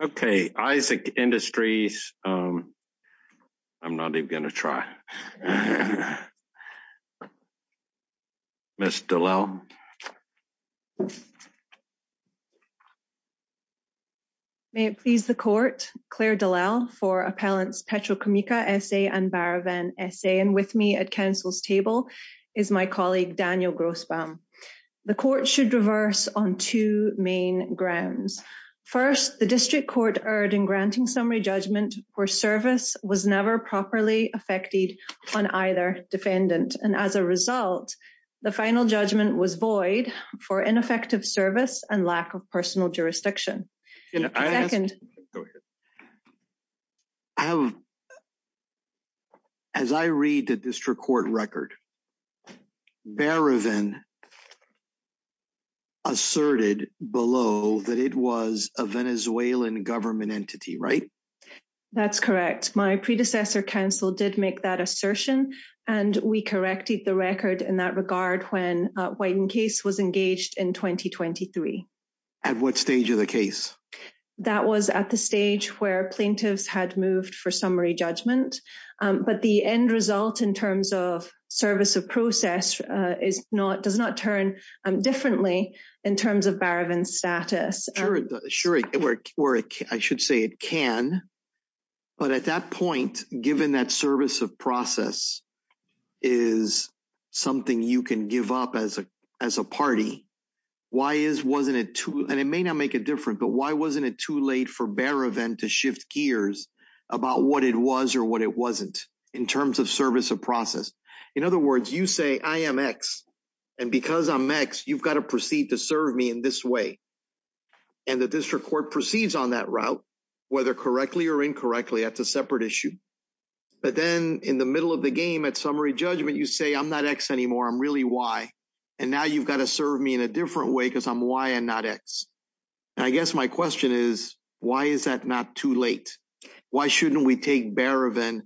and Barraven, S.A. Okay, Isaac Industries, I'm not even going to try. Ms. Dallal. May it please the court, Claire Dallal for Appellants Petroquimica, S.A. and Barraven, S.A. And with me at Council's table is my colleague Daniel Grossbaum. The court should reverse on two main grounds. First, the district court erred in granting summary judgment for service was never properly affected on either defendant. And as a result, the final judgment was void for ineffective service and lack of personal jurisdiction. As I read the district court record, Barraven asserted below that it was a Venezuelan government entity, right? That's correct. My predecessor counsel did make that assertion and we corrected the record in that regard when Whitencase was engaged in 2023. At what stage of the case? That was at the stage where plaintiffs had moved for summary judgment. But the end result in terms of service of process does not turn differently in terms of Barraven's status. Sure, I should say it can. But at that point, given that service of process is something you can give up as a party, why is, wasn't it too, and it may not make a difference, but why wasn't it too late for Barraven to shift gears about what it was or what it wasn't in terms of service of process? In other words, you say I am X, and because I'm X, you've got to proceed to serve me in this way. And the district court proceeds on that route, whether correctly or incorrectly, that's a separate issue. But then in the middle of the game at summary judgment, you say I'm not X anymore, I'm really Y. And now you've got to serve me in a different way because I'm Y and not X. I guess my question is, why is that not too late? Why shouldn't we take Barraven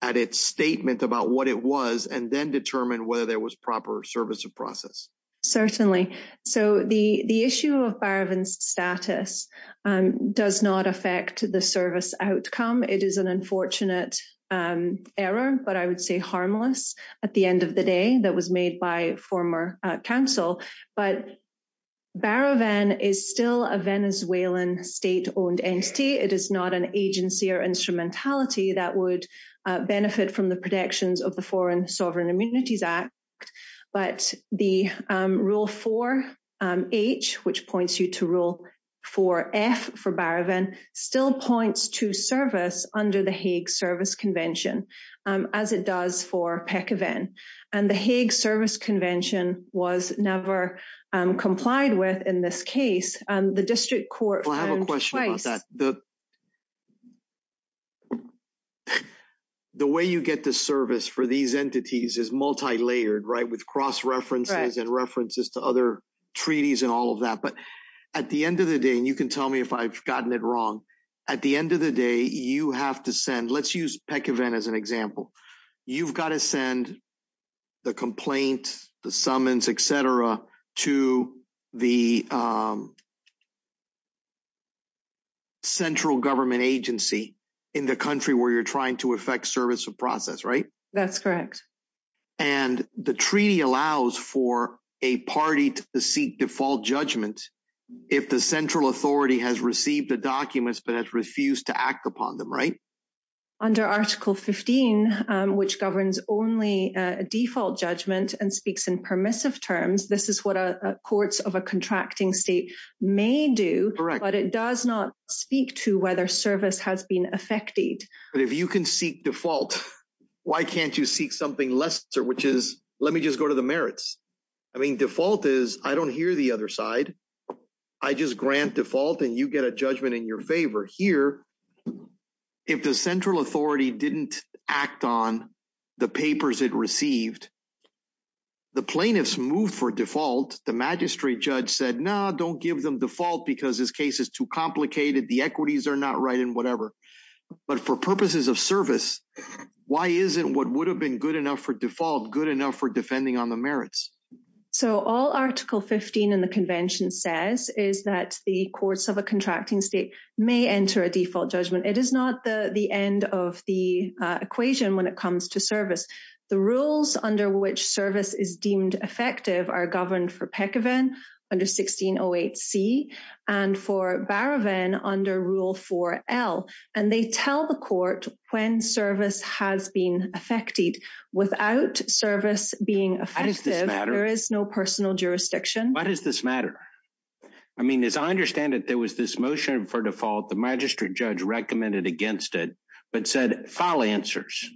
at its statement about what it was and then determine whether there was proper service of process? Certainly. So the issue of Barraven's status does not affect the service outcome. It is an unfortunate error, but I would say harmless at the end of the day that was made by former counsel. But Barraven is still a Venezuelan state-owned entity. It is not an agency or instrumentality that would benefit from the protections of the Foreign Sovereign Immunities Act. But the Rule 4H, which points you to Rule 4F for Barraven, still points to service under the Hague Service Convention, as it does for PECAven. And the Hague Service Convention was never complied with in this case. The district court found twice. Well, I have a question about that. The way you get the service for these entities is multilayered, right? With cross-references and references to other treaties and all of that. But at the end of the day, and you can tell me if I've gotten it wrong, at the end of the day, you have to send, let's use PECAven as an example. You've got to send the complaint, the summons, etc. to the central government agency in the country where you're trying to effect service of process, right? That's correct. And the treaty allows for a party to seek default judgment if the central authority has received the documents but has refused to act upon them, right? Under Article 15, which governs only a default judgment and speaks in permissive terms, this is what courts of a contracting state may do, but it does not speak to whether service has been effected. But if you can seek default, why can't you seek something lesser, which is, let me just go to the merits. I mean, default is, I don't hear the other side, I just grant default and you get a judgment in your favor. Here, if the central authority didn't act on the papers it received, the plaintiffs moved for default, the magistrate judge said, no, don't give them default because this case is too complicated, the equities are not right, and whatever. But for purposes of service, why isn't what would have been good enough for default good enough for defending on the merits? So all Article 15 in the Convention says is that the courts of a contracting state may enter a default judgment. It is not the end of the equation when it comes to service. The rules under which service is deemed effective are governed for Pekevin under 1608C and for Barraven under Rule 4L. And they tell the court when service has been effected. Without service being effective, there is no personal jurisdiction. Why does this matter? I mean, as I understand it, there was this motion for default, the magistrate judge recommended against it, but said, file answers,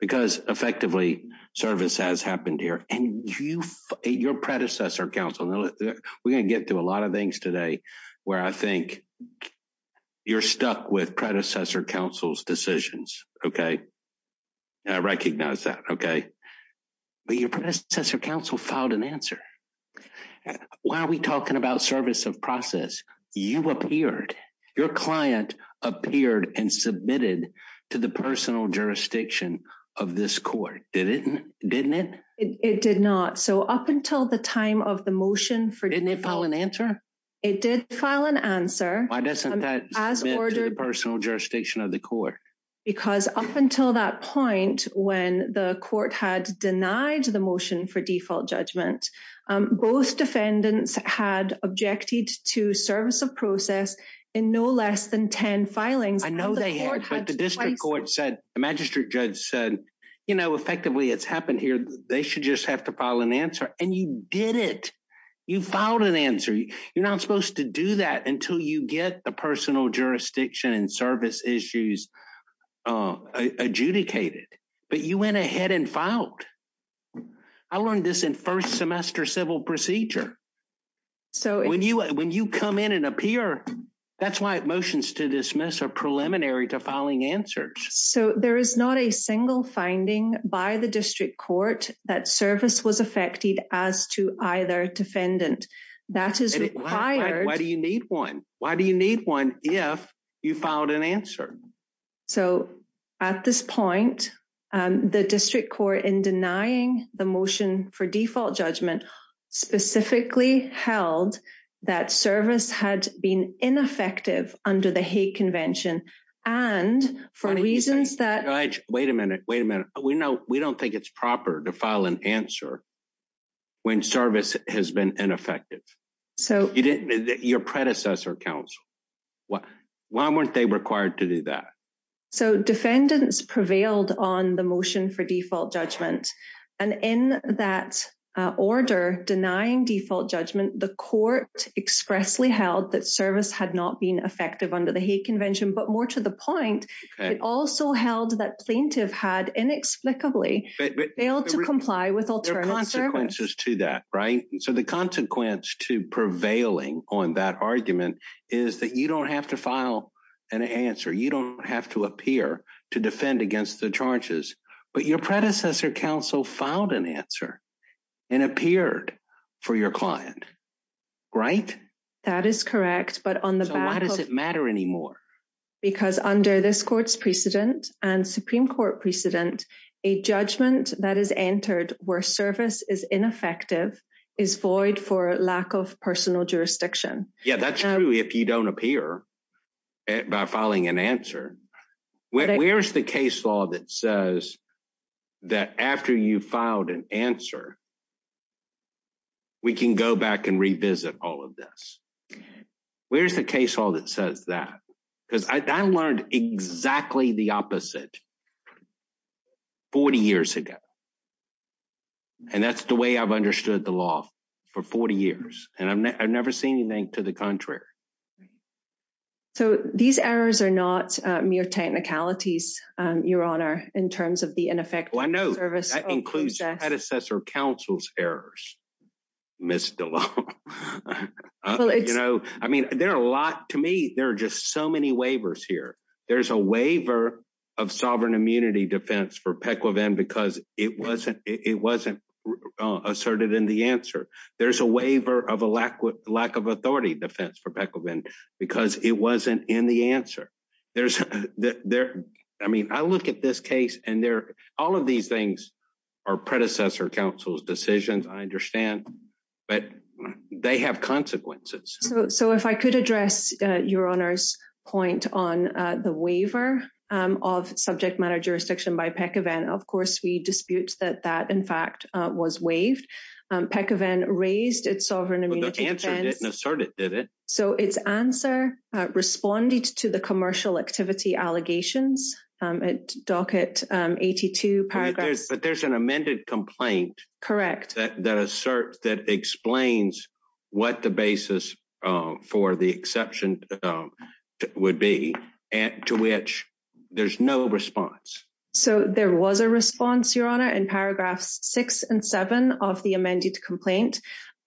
because effectively, service has happened here. And you, your predecessor counsel, we're going to get through a lot of things today where I think you're stuck with predecessor counsel's decisions, okay? I recognize that, okay. But your predecessor counsel filed an answer. Why are we talking about service of process? You appeared, your client appeared and submitted to the personal jurisdiction of this court, didn't it? It did not. So up until the time of the motion for default. Didn't it file an answer? It did file an answer. Why doesn't that submit to the personal jurisdiction of the court? Because up until that point, when the court had denied the motion for default judgment, both defendants had objected to service of process in no less than 10 filings. I know they had, but the district court said, the magistrate judge said, you know, effectively it's happened here. They should just have to file an answer. And you did it. You filed an answer. You're not supposed to do that until you get the personal jurisdiction and service issues adjudicated, but you went ahead and filed. I learned this in first semester civil procedure. So when you, when you come in and appear, that's why motions to dismiss are preliminary to filing answers. So there is not a single finding by the district court that service was affected as to either defendant. Why do you need one? Why do you need one if you filed an answer? So at this point, the district court in denying the motion for default judgment specifically held that service had been ineffective under the Hague convention and for reasons that Wait a minute. Wait a minute. We know we don't think it's proper to file an answer when service has been ineffective. So you didn't, your predecessor council, why weren't they required to do that? So defendants prevailed on the motion for default judgment. And in that order denying default judgment, the court expressly held that service had not been effective under the Hague convention, but more to the point, it also held that plaintiff had inexplicably failed to comply with alternative services to that, right? So the consequence to prevailing on that argument is that you don't have to file an answer. You don't have to appear to defend against the charges, but your predecessor council filed an answer and appeared for your client, right? That is correct. But on the, why does it matter anymore? Because under this court's precedent and Supreme court precedent, a judgment that is entered where service is ineffective is void for lack of personal jurisdiction. Yeah. That's true. If you don't appear by filing an answer, where's the case law that says that after you filed an answer, we can go back and revisit all of this. Where's the case all that says that, because I learned exactly the opposite 40 years ago. And that's the way I've understood the law for 40 years. And I've never seen anything to the contrary. So these errors are not mere technicalities, your honor, in terms of the ineffective service. That includes predecessor council's errors, Ms. DeLong. I mean, there are a lot, to me, there are just so many waivers here. There's a waiver of sovereign immunity defense for Pequivan because it wasn't asserted in the answer. There's a waiver of a lack of authority defense for Pequivan because it wasn't in the answer. There's, I mean, I look at this case and all of these things are predecessor council's decisions, I understand, but they have consequences. So if I could address your honor's point on the waiver of subject matter jurisdiction by Pequivan, of course, we dispute that that in fact was waived, Pequivan raised its sovereign immunity defense. The answer didn't assert it, did it? So it's answer responded to the commercial activity allegations at docket 82 paragraphs. But there's an amended complaint that asserts, that explains what the basis for the exception would be and to which there's no response. So there was a response, your honor, in paragraphs six and seven of the amended complaint,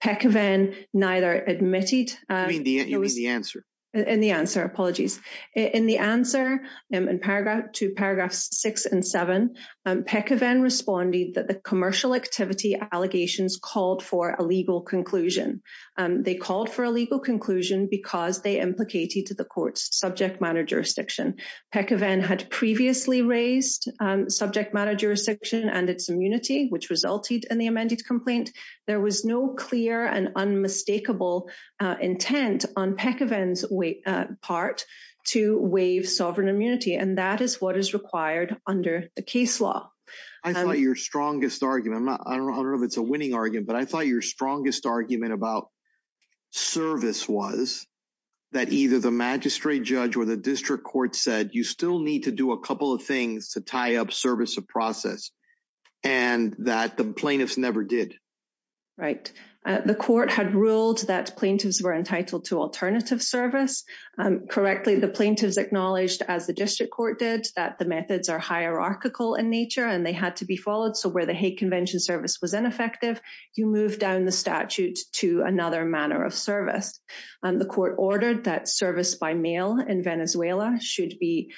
Pequivan neither admitted. You mean the answer? In the answer, apologies. In the answer to paragraphs six and seven, Pequivan responded that the commercial activity allegations called for a legal conclusion. They called for a legal conclusion because they implicated to the court's subject matter jurisdiction. Pequivan had previously raised subject matter jurisdiction and its immunity, which resulted in the amended complaint. There was no clear and unmistakable intent on Pequivan's part to waive sovereign immunity. And that is what is required under the case law. I thought your strongest argument, I don't know if it's a winning argument, but I thought your strongest argument about service was that either the magistrate judge or the district court said, you still need to do a couple of things to tie up service of process and that the plaintiffs never did. Right. The court had ruled that plaintiffs were entitled to alternative service. Correctly, the plaintiffs acknowledged, as the district court did, that the methods are hierarchical in nature and they had to be followed. So where the hate convention service was ineffective, you move down the statute to another manner of service. And the court ordered that service by mail in Venezuela should be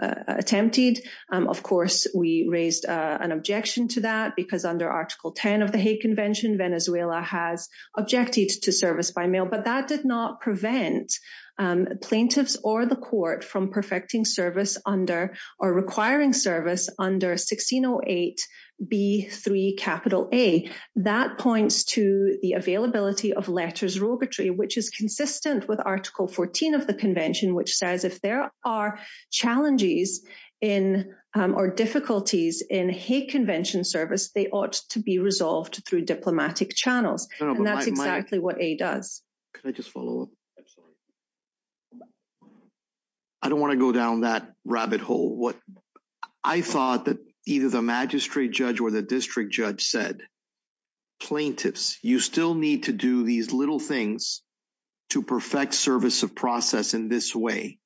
attempted. Of course, we raised an objection to that because under Article 10 of the hate convention, Venezuela has objected to service by mail, but that did not prevent plaintiffs or the court from perfecting service under or requiring service under 1608B3A. That points to the availability of letters rogatory, which is consistent with Article 14 of the convention, which says if there are challenges or difficulties in hate convention service, they ought to be resolved through diplomatic channels. And that's exactly what A does. Can I just follow up? I don't want to go down that rabbit hole. I thought that either the magistrate judge or the district judge said, plaintiffs, you still need to do these little things to perfect service of process in this way.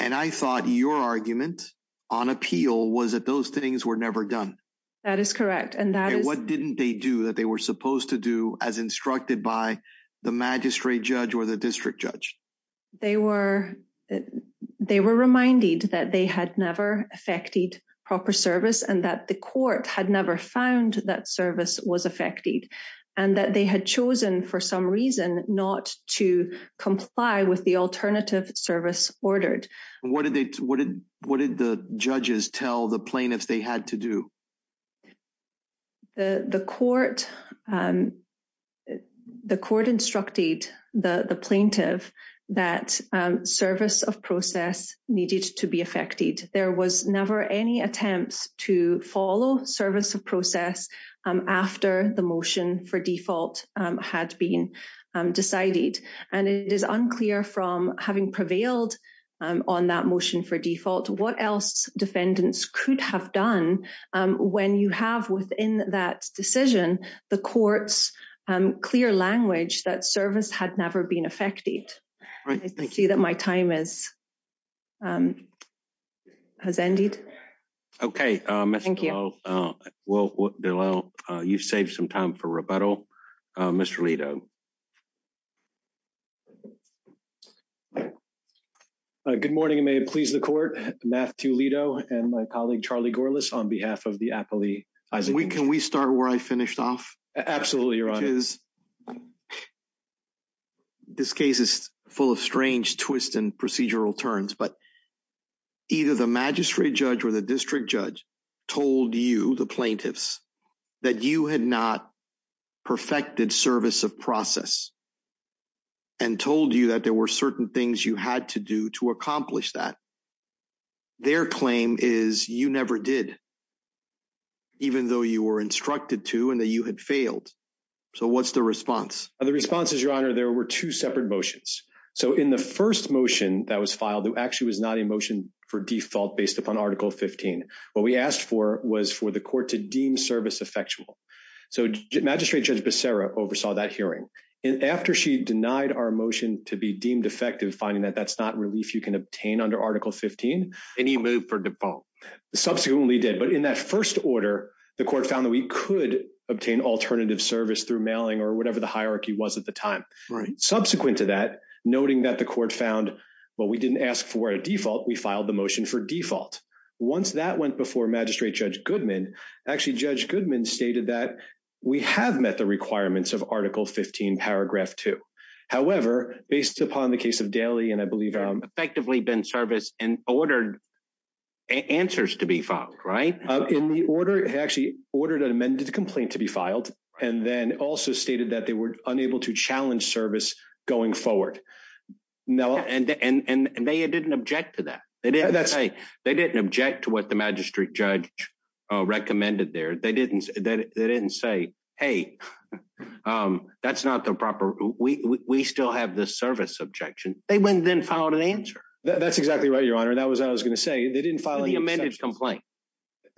And I thought your argument on appeal was that those things were never done. That is correct. And what didn't they do that they were supposed to do as instructed by the magistrate judge or the district judge? They were reminded that they had never effected proper service and that the court had never found that service was effected and that they had chosen for some reason not to comply with the alternative service ordered. What did the judges tell the plaintiffs they had to do? The court instructed the plaintiff that service of process needed to be effected. There was never any attempts to follow service of process after the motion for default had been decided. And it is unclear from having prevailed on that motion for default, what else defendants could have done when you have within that decision, the court's clear language that service had never been effected. I see that my time has ended. Okay. Thank you. Well, you've saved some time for rebuttal. Mr. Lito. Good morning, and may it please the court, Matthew Lito and my colleague, Charlie Gorlice on behalf of the Apolli. Can we start where I finished off? Absolutely. Your honor. The thing is, this case is full of strange twists and procedural turns, but either the magistrate judge or the district judge told you, the plaintiffs, that you had not perfected service of process and told you that there were certain things you had to do to accomplish that. Their claim is you never did, even though you were instructed to and that you had failed. So what's the response? The response is, your honor, there were two separate motions. So in the first motion that was filed, there actually was not a motion for default based upon article 15. What we asked for was for the court to deem service effectual. So magistrate judge Becerra oversaw that hearing. And after she denied our motion to be deemed effective, finding that that's not relief you can obtain under article 15. And he moved for default. Subsequently did. But in that first order, the court found that we could obtain alternative service through mailing or whatever the hierarchy was at the time. Subsequent to that, noting that the court found, well, we didn't ask for a default, we filed the motion for default. Once that went before magistrate judge Goodman, actually judge Goodman stated that we have met the requirements of article 15 paragraph 2. However, based upon the case of Daly, and I believe I'm effectively been service and ordered answers to be filed right in the order, actually ordered an amended complaint to be filed, and then also stated that they were unable to challenge service going forward. Now, and they didn't object to that. They didn't say they didn't object to what the magistrate judge recommended there. They didn't. They didn't say, hey, that's not the proper. We still have this service objection. They went then filed an answer. That's exactly right, your honor. That was I was going to say they didn't file the amended complaint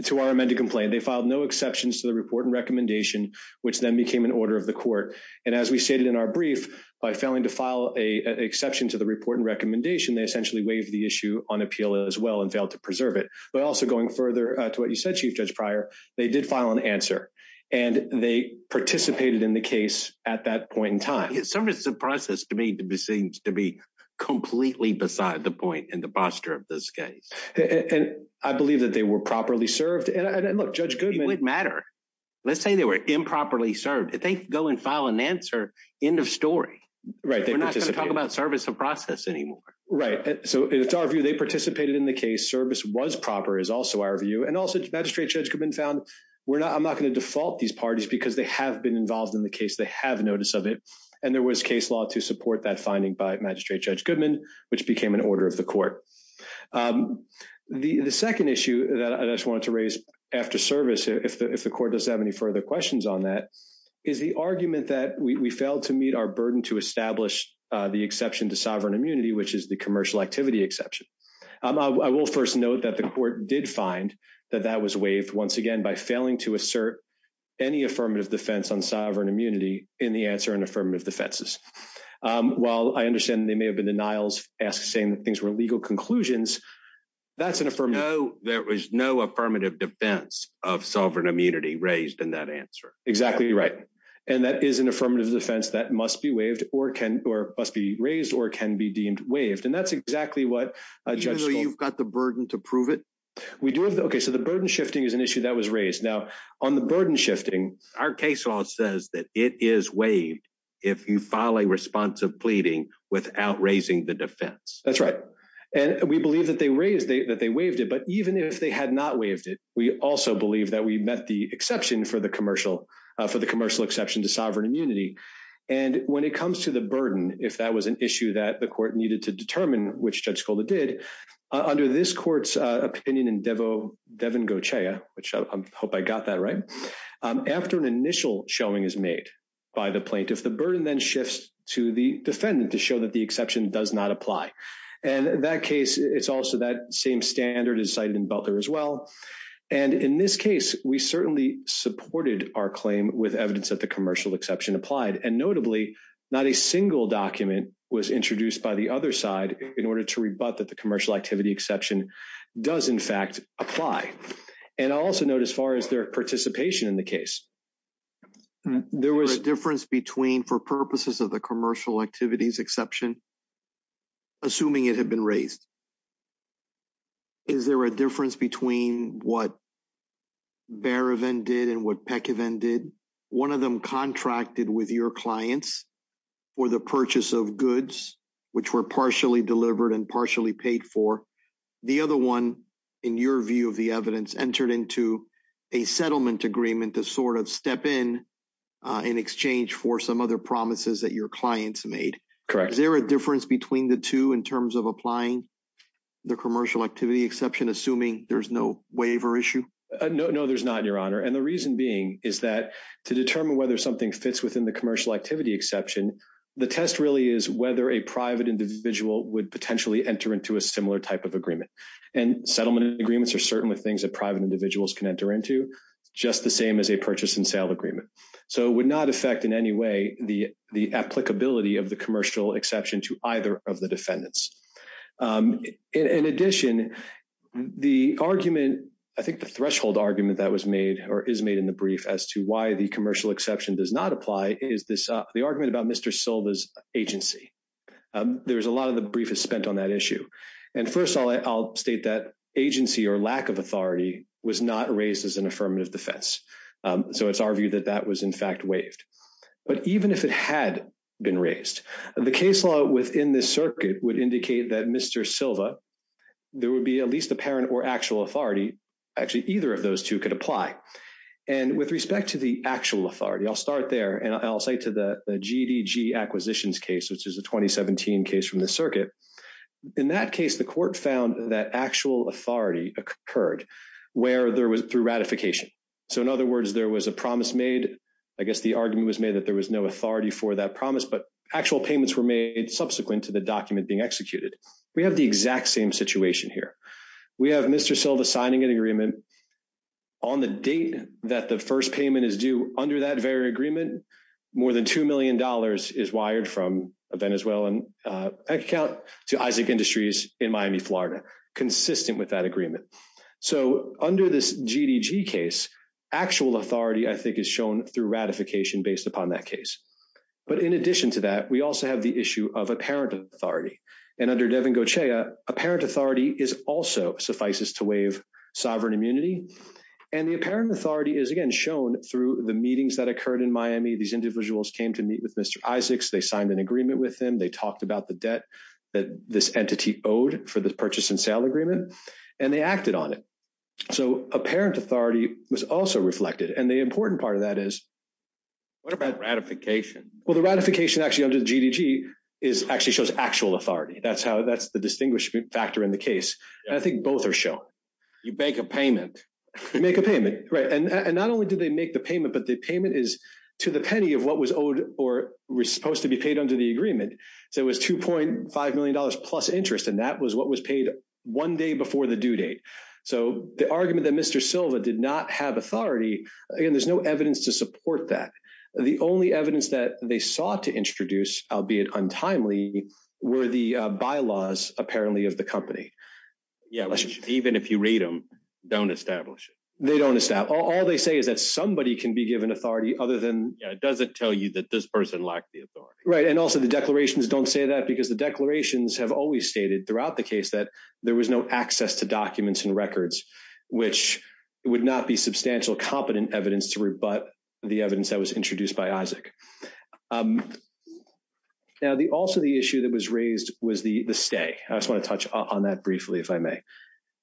to our amended complaint. They filed no exceptions to the report and recommendation, which then became an order of the court. And as we stated in our brief, by failing to file a exception to the report and recommendation, they essentially waived the issue on appeal as well and failed to preserve it. But also going further to what you said, Chief Judge Pryor, they did file an answer and they participated in the case at that point in time. Service of process to me seems to be completely beside the point in the posture of this case. And I believe that they were properly served. And look, Judge Goodman. It wouldn't matter. Let's say they were improperly served. If they go and file an answer, end of story. Right. They're not going to talk about service of process anymore. Right. So it's our view they participated in the case. Service was proper is also our view. And also, the magistrate judge had been found. We're not I'm not going to default these parties because they have been involved in the case. They have notice of it. And there was case law to support that finding by Magistrate Judge Goodman, which became an order of the court. The second issue that I just wanted to raise after service, if the court does have any further questions on that, is the argument that we failed to meet our burden to establish the exception to sovereign immunity, which is the commercial activity exception. I will first note that the court did find that that was waived, once again, by failing to assert any affirmative defense on sovereign immunity in the answer and affirmative defenses. While I understand they may have been denials as saying things were legal conclusions, that's an affirmative. No, there was no affirmative defense of sovereign immunity raised in that answer. Exactly right. And that is an affirmative defense that must be waived or can or must be raised or can be deemed waived. And that's exactly what you've got the burden to prove it. We do. OK, so the burden shifting is an issue that was raised. Now, on the burden shifting, our case law says that it is waived if you file a response of pleading without raising the defense. That's right. And we believe that they raised it, that they waived it. But even if they had not waived it, we also believe that we met the exception for the commercial for the commercial exception to sovereign immunity. And when it comes to the burden, if that was an issue that the court needed to determine which Judge Golda did, under this court's opinion in Devo, Devin Goetia, which I hope I got that right, after an initial showing is made by the plaintiff, the burden then shifts to the defendant to show that the exception does not apply. And in that case, it's also that same standard is cited in Butler as well. And in this case, we certainly supported our claim with evidence that the commercial exception applied. And notably, not a single document was introduced by the other side in order to rebut that the commercial activity exception does, in fact, apply. And I'll also note, as far as their participation in the case, there was a difference between for purposes of the commercial activities exception, assuming it had been raised. Is there a difference between what Berevin did and what Pekevin did? One of them contracted with your clients for the purchase of goods, which were partially delivered and partially paid for. The other one, in your view of the evidence, entered into a settlement agreement to sort of step in in exchange for some other promises that your clients made. Correct. Is there a difference between the two in terms of applying the commercial activity exception, assuming there's no waiver issue? No, there's not, Your Honor. And the reason being is that to determine whether something fits within the commercial activity exception, the test really is whether a private individual would potentially enter into a similar type of agreement. And settlement agreements are certainly things that private individuals can enter into, just the same as a purchase and sale agreement. So it would not affect in any way the applicability of the commercial exception to either of the defendants. In addition, the argument, I think the threshold argument that was made or is made in the brief as to why the commercial exception does not apply is the argument about Mr. Silva's agency. There's a lot of the brief is spent on that issue. And first of all, I'll state that agency or lack of authority was not raised as an affirmative defense. So it's our view that that was in fact waived. But even if it had been raised, the case law within this circuit would indicate that Mr. Silva, there would be at least apparent or actual authority, actually, either of those two could apply. And with respect to the actual authority, I'll start there and I'll say to the GDG acquisitions case, which is a 2017 case from the circuit. In that case, the court found that actual authority occurred through ratification. So in other words, there was a promise made, I guess the argument was made that there was no authority for that promise, but actual payments were made subsequent to the document being executed. We have the exact same situation here. We have Mr. Silva signing an agreement on the date that the first payment is due under that very agreement, more than $2 million is wired from a Venezuelan account to Isaac Industries in Miami, Florida, consistent with that agreement. So under this GDG case, actual authority, I think is shown through ratification based upon that case. But in addition to that, we also have the issue of apparent authority. And under Devin Goetia, apparent authority is also suffices to waive sovereign immunity. And the apparent authority is again shown through the meetings that occurred in Miami. These individuals came to meet with Mr. Isaacs. They signed an agreement with him. They talked about the debt that this entity owed for the purchase and sale agreement. And they acted on it. So apparent authority was also reflected. And the important part of that is- What about ratification? Well, the ratification actually under the GDG is actually shows actual authority. That's the distinguishing factor in the case. And I think both are shown. You make a payment. You make a payment. Right. And not only do they make the payment, but the payment is to the penny of what was owed or was supposed to be paid under the agreement. So it was $2.5 million plus interest. And that was what was paid one day before the due date. So the argument that Mr. Silva did not have authority, again, there's no evidence to support that. The only evidence that they sought to introduce, albeit untimely, were the bylaws apparently of the company. Yeah. Even if you read them, don't establish it. They don't establish. All they say is that somebody can be given authority other than- Yeah. It doesn't tell you that this person lacked the authority. Right. And also, the declarations don't say that because the declarations have always stated throughout the case that there was no access to documents and records, which would not be substantial competent evidence to rebut the evidence that was introduced by Isaac. Now, also the issue that was raised was the stay. I just want to touch on that briefly, if I may.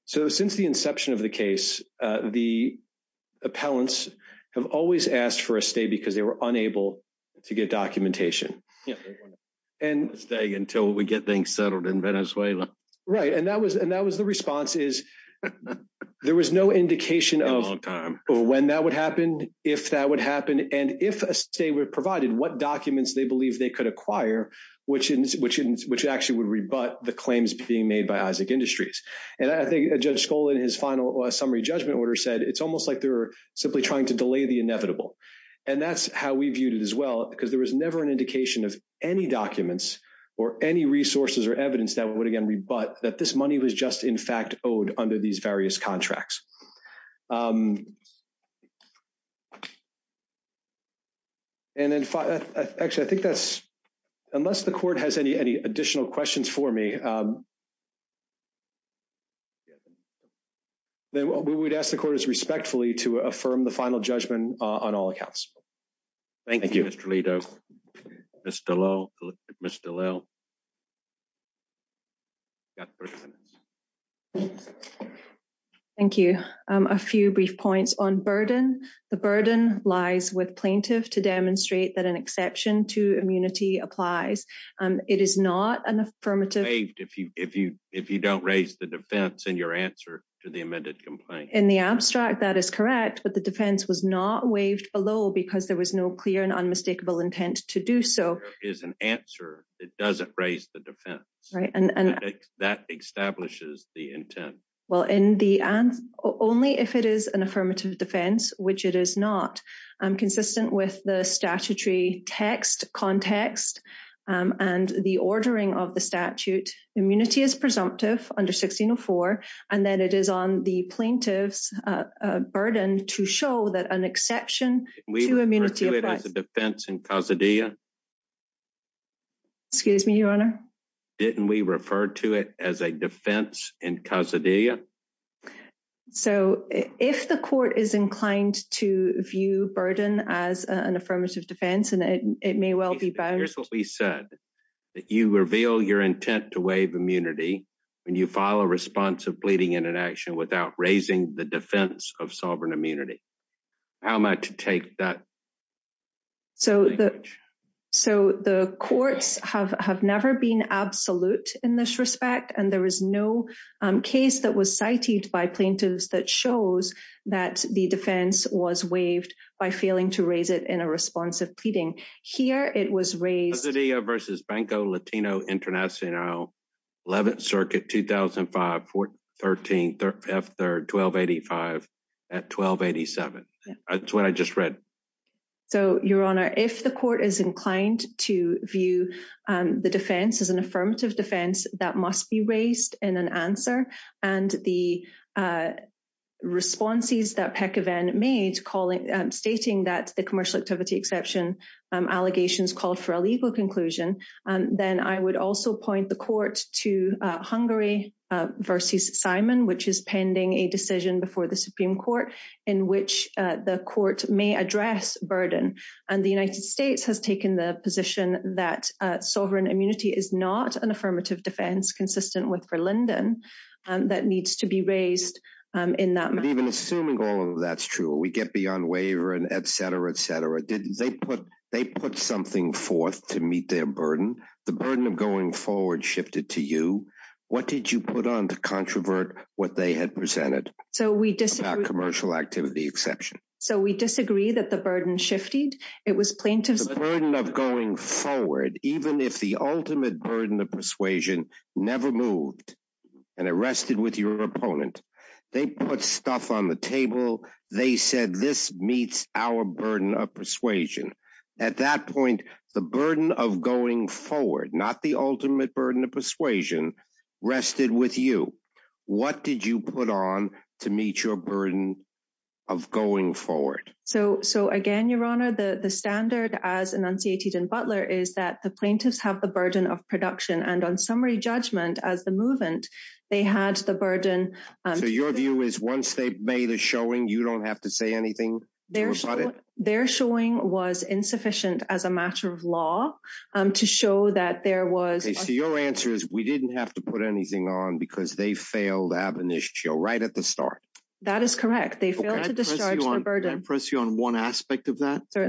So since the inception of the case, the appellants have always asked for a stay because they were unable to get documentation. And- Stay until we get things settled in Venezuela. Right. And that was the response is there was no indication of- When that would happen, if that would happen, and if a stay were provided, what documents they believe they could acquire, which actually would rebut the claims being made by Isaac Industries. And I think Judge Scholl in his final summary judgment order said, it's almost like they're simply trying to delay the inevitable. And that's how we viewed it as well, because there was never an indication of any documents or any resources or evidence that would, again, rebut that this money was just, in fact, owed under these various contracts. And in fact, actually, I think that's- Unless the court has any additional questions for me, then we would ask the court to respectfully to affirm the final judgment on all accounts. Thank you. Thank you, Mr. Lito. Ms. Dallal. You've got 30 minutes. Thank you. A few brief points on burden. The burden lies with plaintiff to demonstrate that an exception to immunity applies. It is not an affirmative- If you don't raise the defense in your answer to the amended complaint. In the abstract, that is correct, but the defense was not waived below because there was no clear and unmistakable intent to do so. There is an answer that doesn't raise the defense. That establishes the intent. Well, only if it is an affirmative defense, which it is not. Consistent with the statutory text context and the ordering of the statute, immunity is presumptive under 1604, and then it is on the plaintiff's burden to show that an exception to immunity- Didn't we refer to it as a defense in causa dea? Excuse me, your honor? Didn't we refer to it as a defense in causa dea? So if the court is inclined to view burden as an affirmative defense, and it may well be bound- that you reveal your intent to waive immunity when you file a response of pleading in an action without raising the defense of sovereign immunity. How am I to take that? So the courts have never been absolute in this respect, and there is no case that was cited by plaintiffs that shows that the defense was waived by failing to raise it in a response of pleading. Here it was raised- Causa dea versus Banco Latino Internacional, 11th Circuit, 2005, 14-13, F-3rd, 1285 at 1287. That's what I just read. So your honor, if the court is inclined to view the defense as an affirmative defense, that must be raised in an answer. And the responses that Pekeven made, stating that the commercial activity exception allegations called for a legal conclusion, then I would also point the court to Hungary versus Simon, which is pending a decision before the Supreme Court in which the court may address burden. And the United States has taken the position that sovereign immunity is not an affirmative defense consistent with Verlinden that needs to be raised in that- But even assuming all of that's true, we get beyond waiver and et cetera, et cetera. They put something forth to meet their burden. The burden of going forward shifted to you. What did you put on to controvert what they had presented about commercial activity exception? So we disagree that the burden shifted. It was plaintiffs- The burden of going forward, even if the ultimate burden of persuasion never moved and it rested with your opponent, they put stuff on the table. They said, this meets our burden of persuasion. At that point, the burden of going forward, not the ultimate burden of persuasion, rested with you. What did you put on to meet your burden of going forward? So again, Your Honor, the standard as enunciated in Butler is that the plaintiffs have the burden of production and on summary judgment as the movement, they had the burden- So your view is once they made a showing, you don't have to say anything about it? Their showing was insufficient as a matter of law to show that there was- So your answer is we didn't have to put anything on because they failed to have an issue right at the start. That is correct. They failed to discharge the burden. Can I press you on one aspect of that? I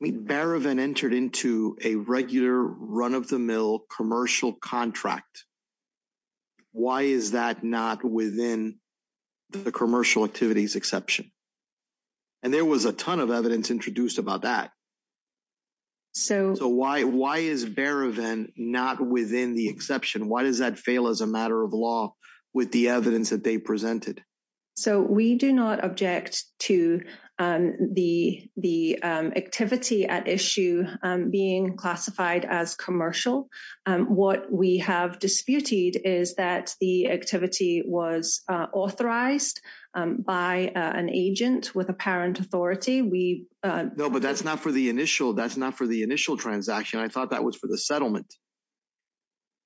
mean, Berevin entered into a regular run-of-the-mill commercial contract. Why is that not within the commercial activities exception? There was a ton of evidence introduced about that. Why is Berevin not within the exception? Why does that fail as a matter of law with the evidence that they presented? So we do not object to the activity at issue being classified as commercial. What we have disputed is that the activity was authorized by an agent with apparent authority. We- No, but that's not for the initial. That's not for the initial transaction. I thought that was for the settlement.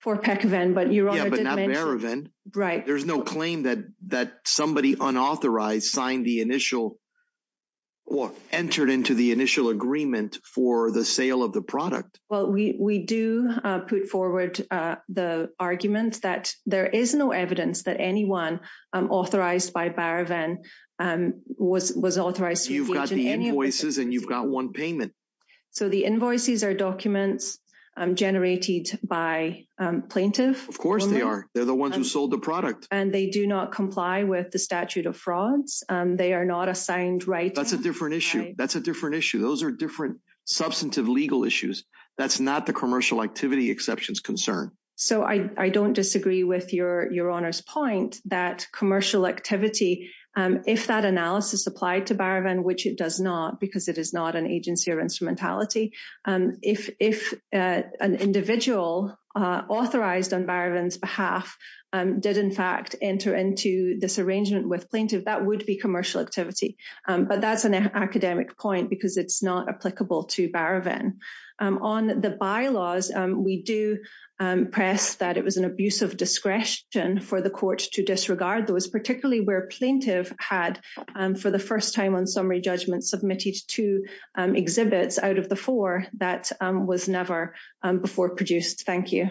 For Peckvin, but Your Honor didn't mention- Yeah, but not Berevin. Right. There's no claim that somebody unauthorized signed the initial or entered into the initial agreement for the sale of the product. Well, we do put forward the argument that there is no evidence that anyone authorized by Berevin was authorized to engage in any- You've got the invoices and you've got one payment. So the invoices are documents generated by plaintiff? Of course they are. They're the ones who sold the product. And they do not comply with the statute of frauds. They are not assigned rights. That's a different issue. That's a different issue. Those are different substantive legal issues. That's not the commercial activity exceptions concern. So I don't disagree with Your Honor's point that commercial activity, if that analysis applied to Berevin, which it does not because it is not an agency or instrumentality. If an individual authorized on Berevin's behalf did, in fact, enter into this arrangement with plaintiff, that would be commercial activity. But that's an academic point because it's not applicable to Berevin. On the bylaws, we do press that it was an abuse of discretion for the court to disregard those, particularly where plaintiff had, for the first time on summary judgment, submitted two exhibits out of the four that was never before produced. Thank you.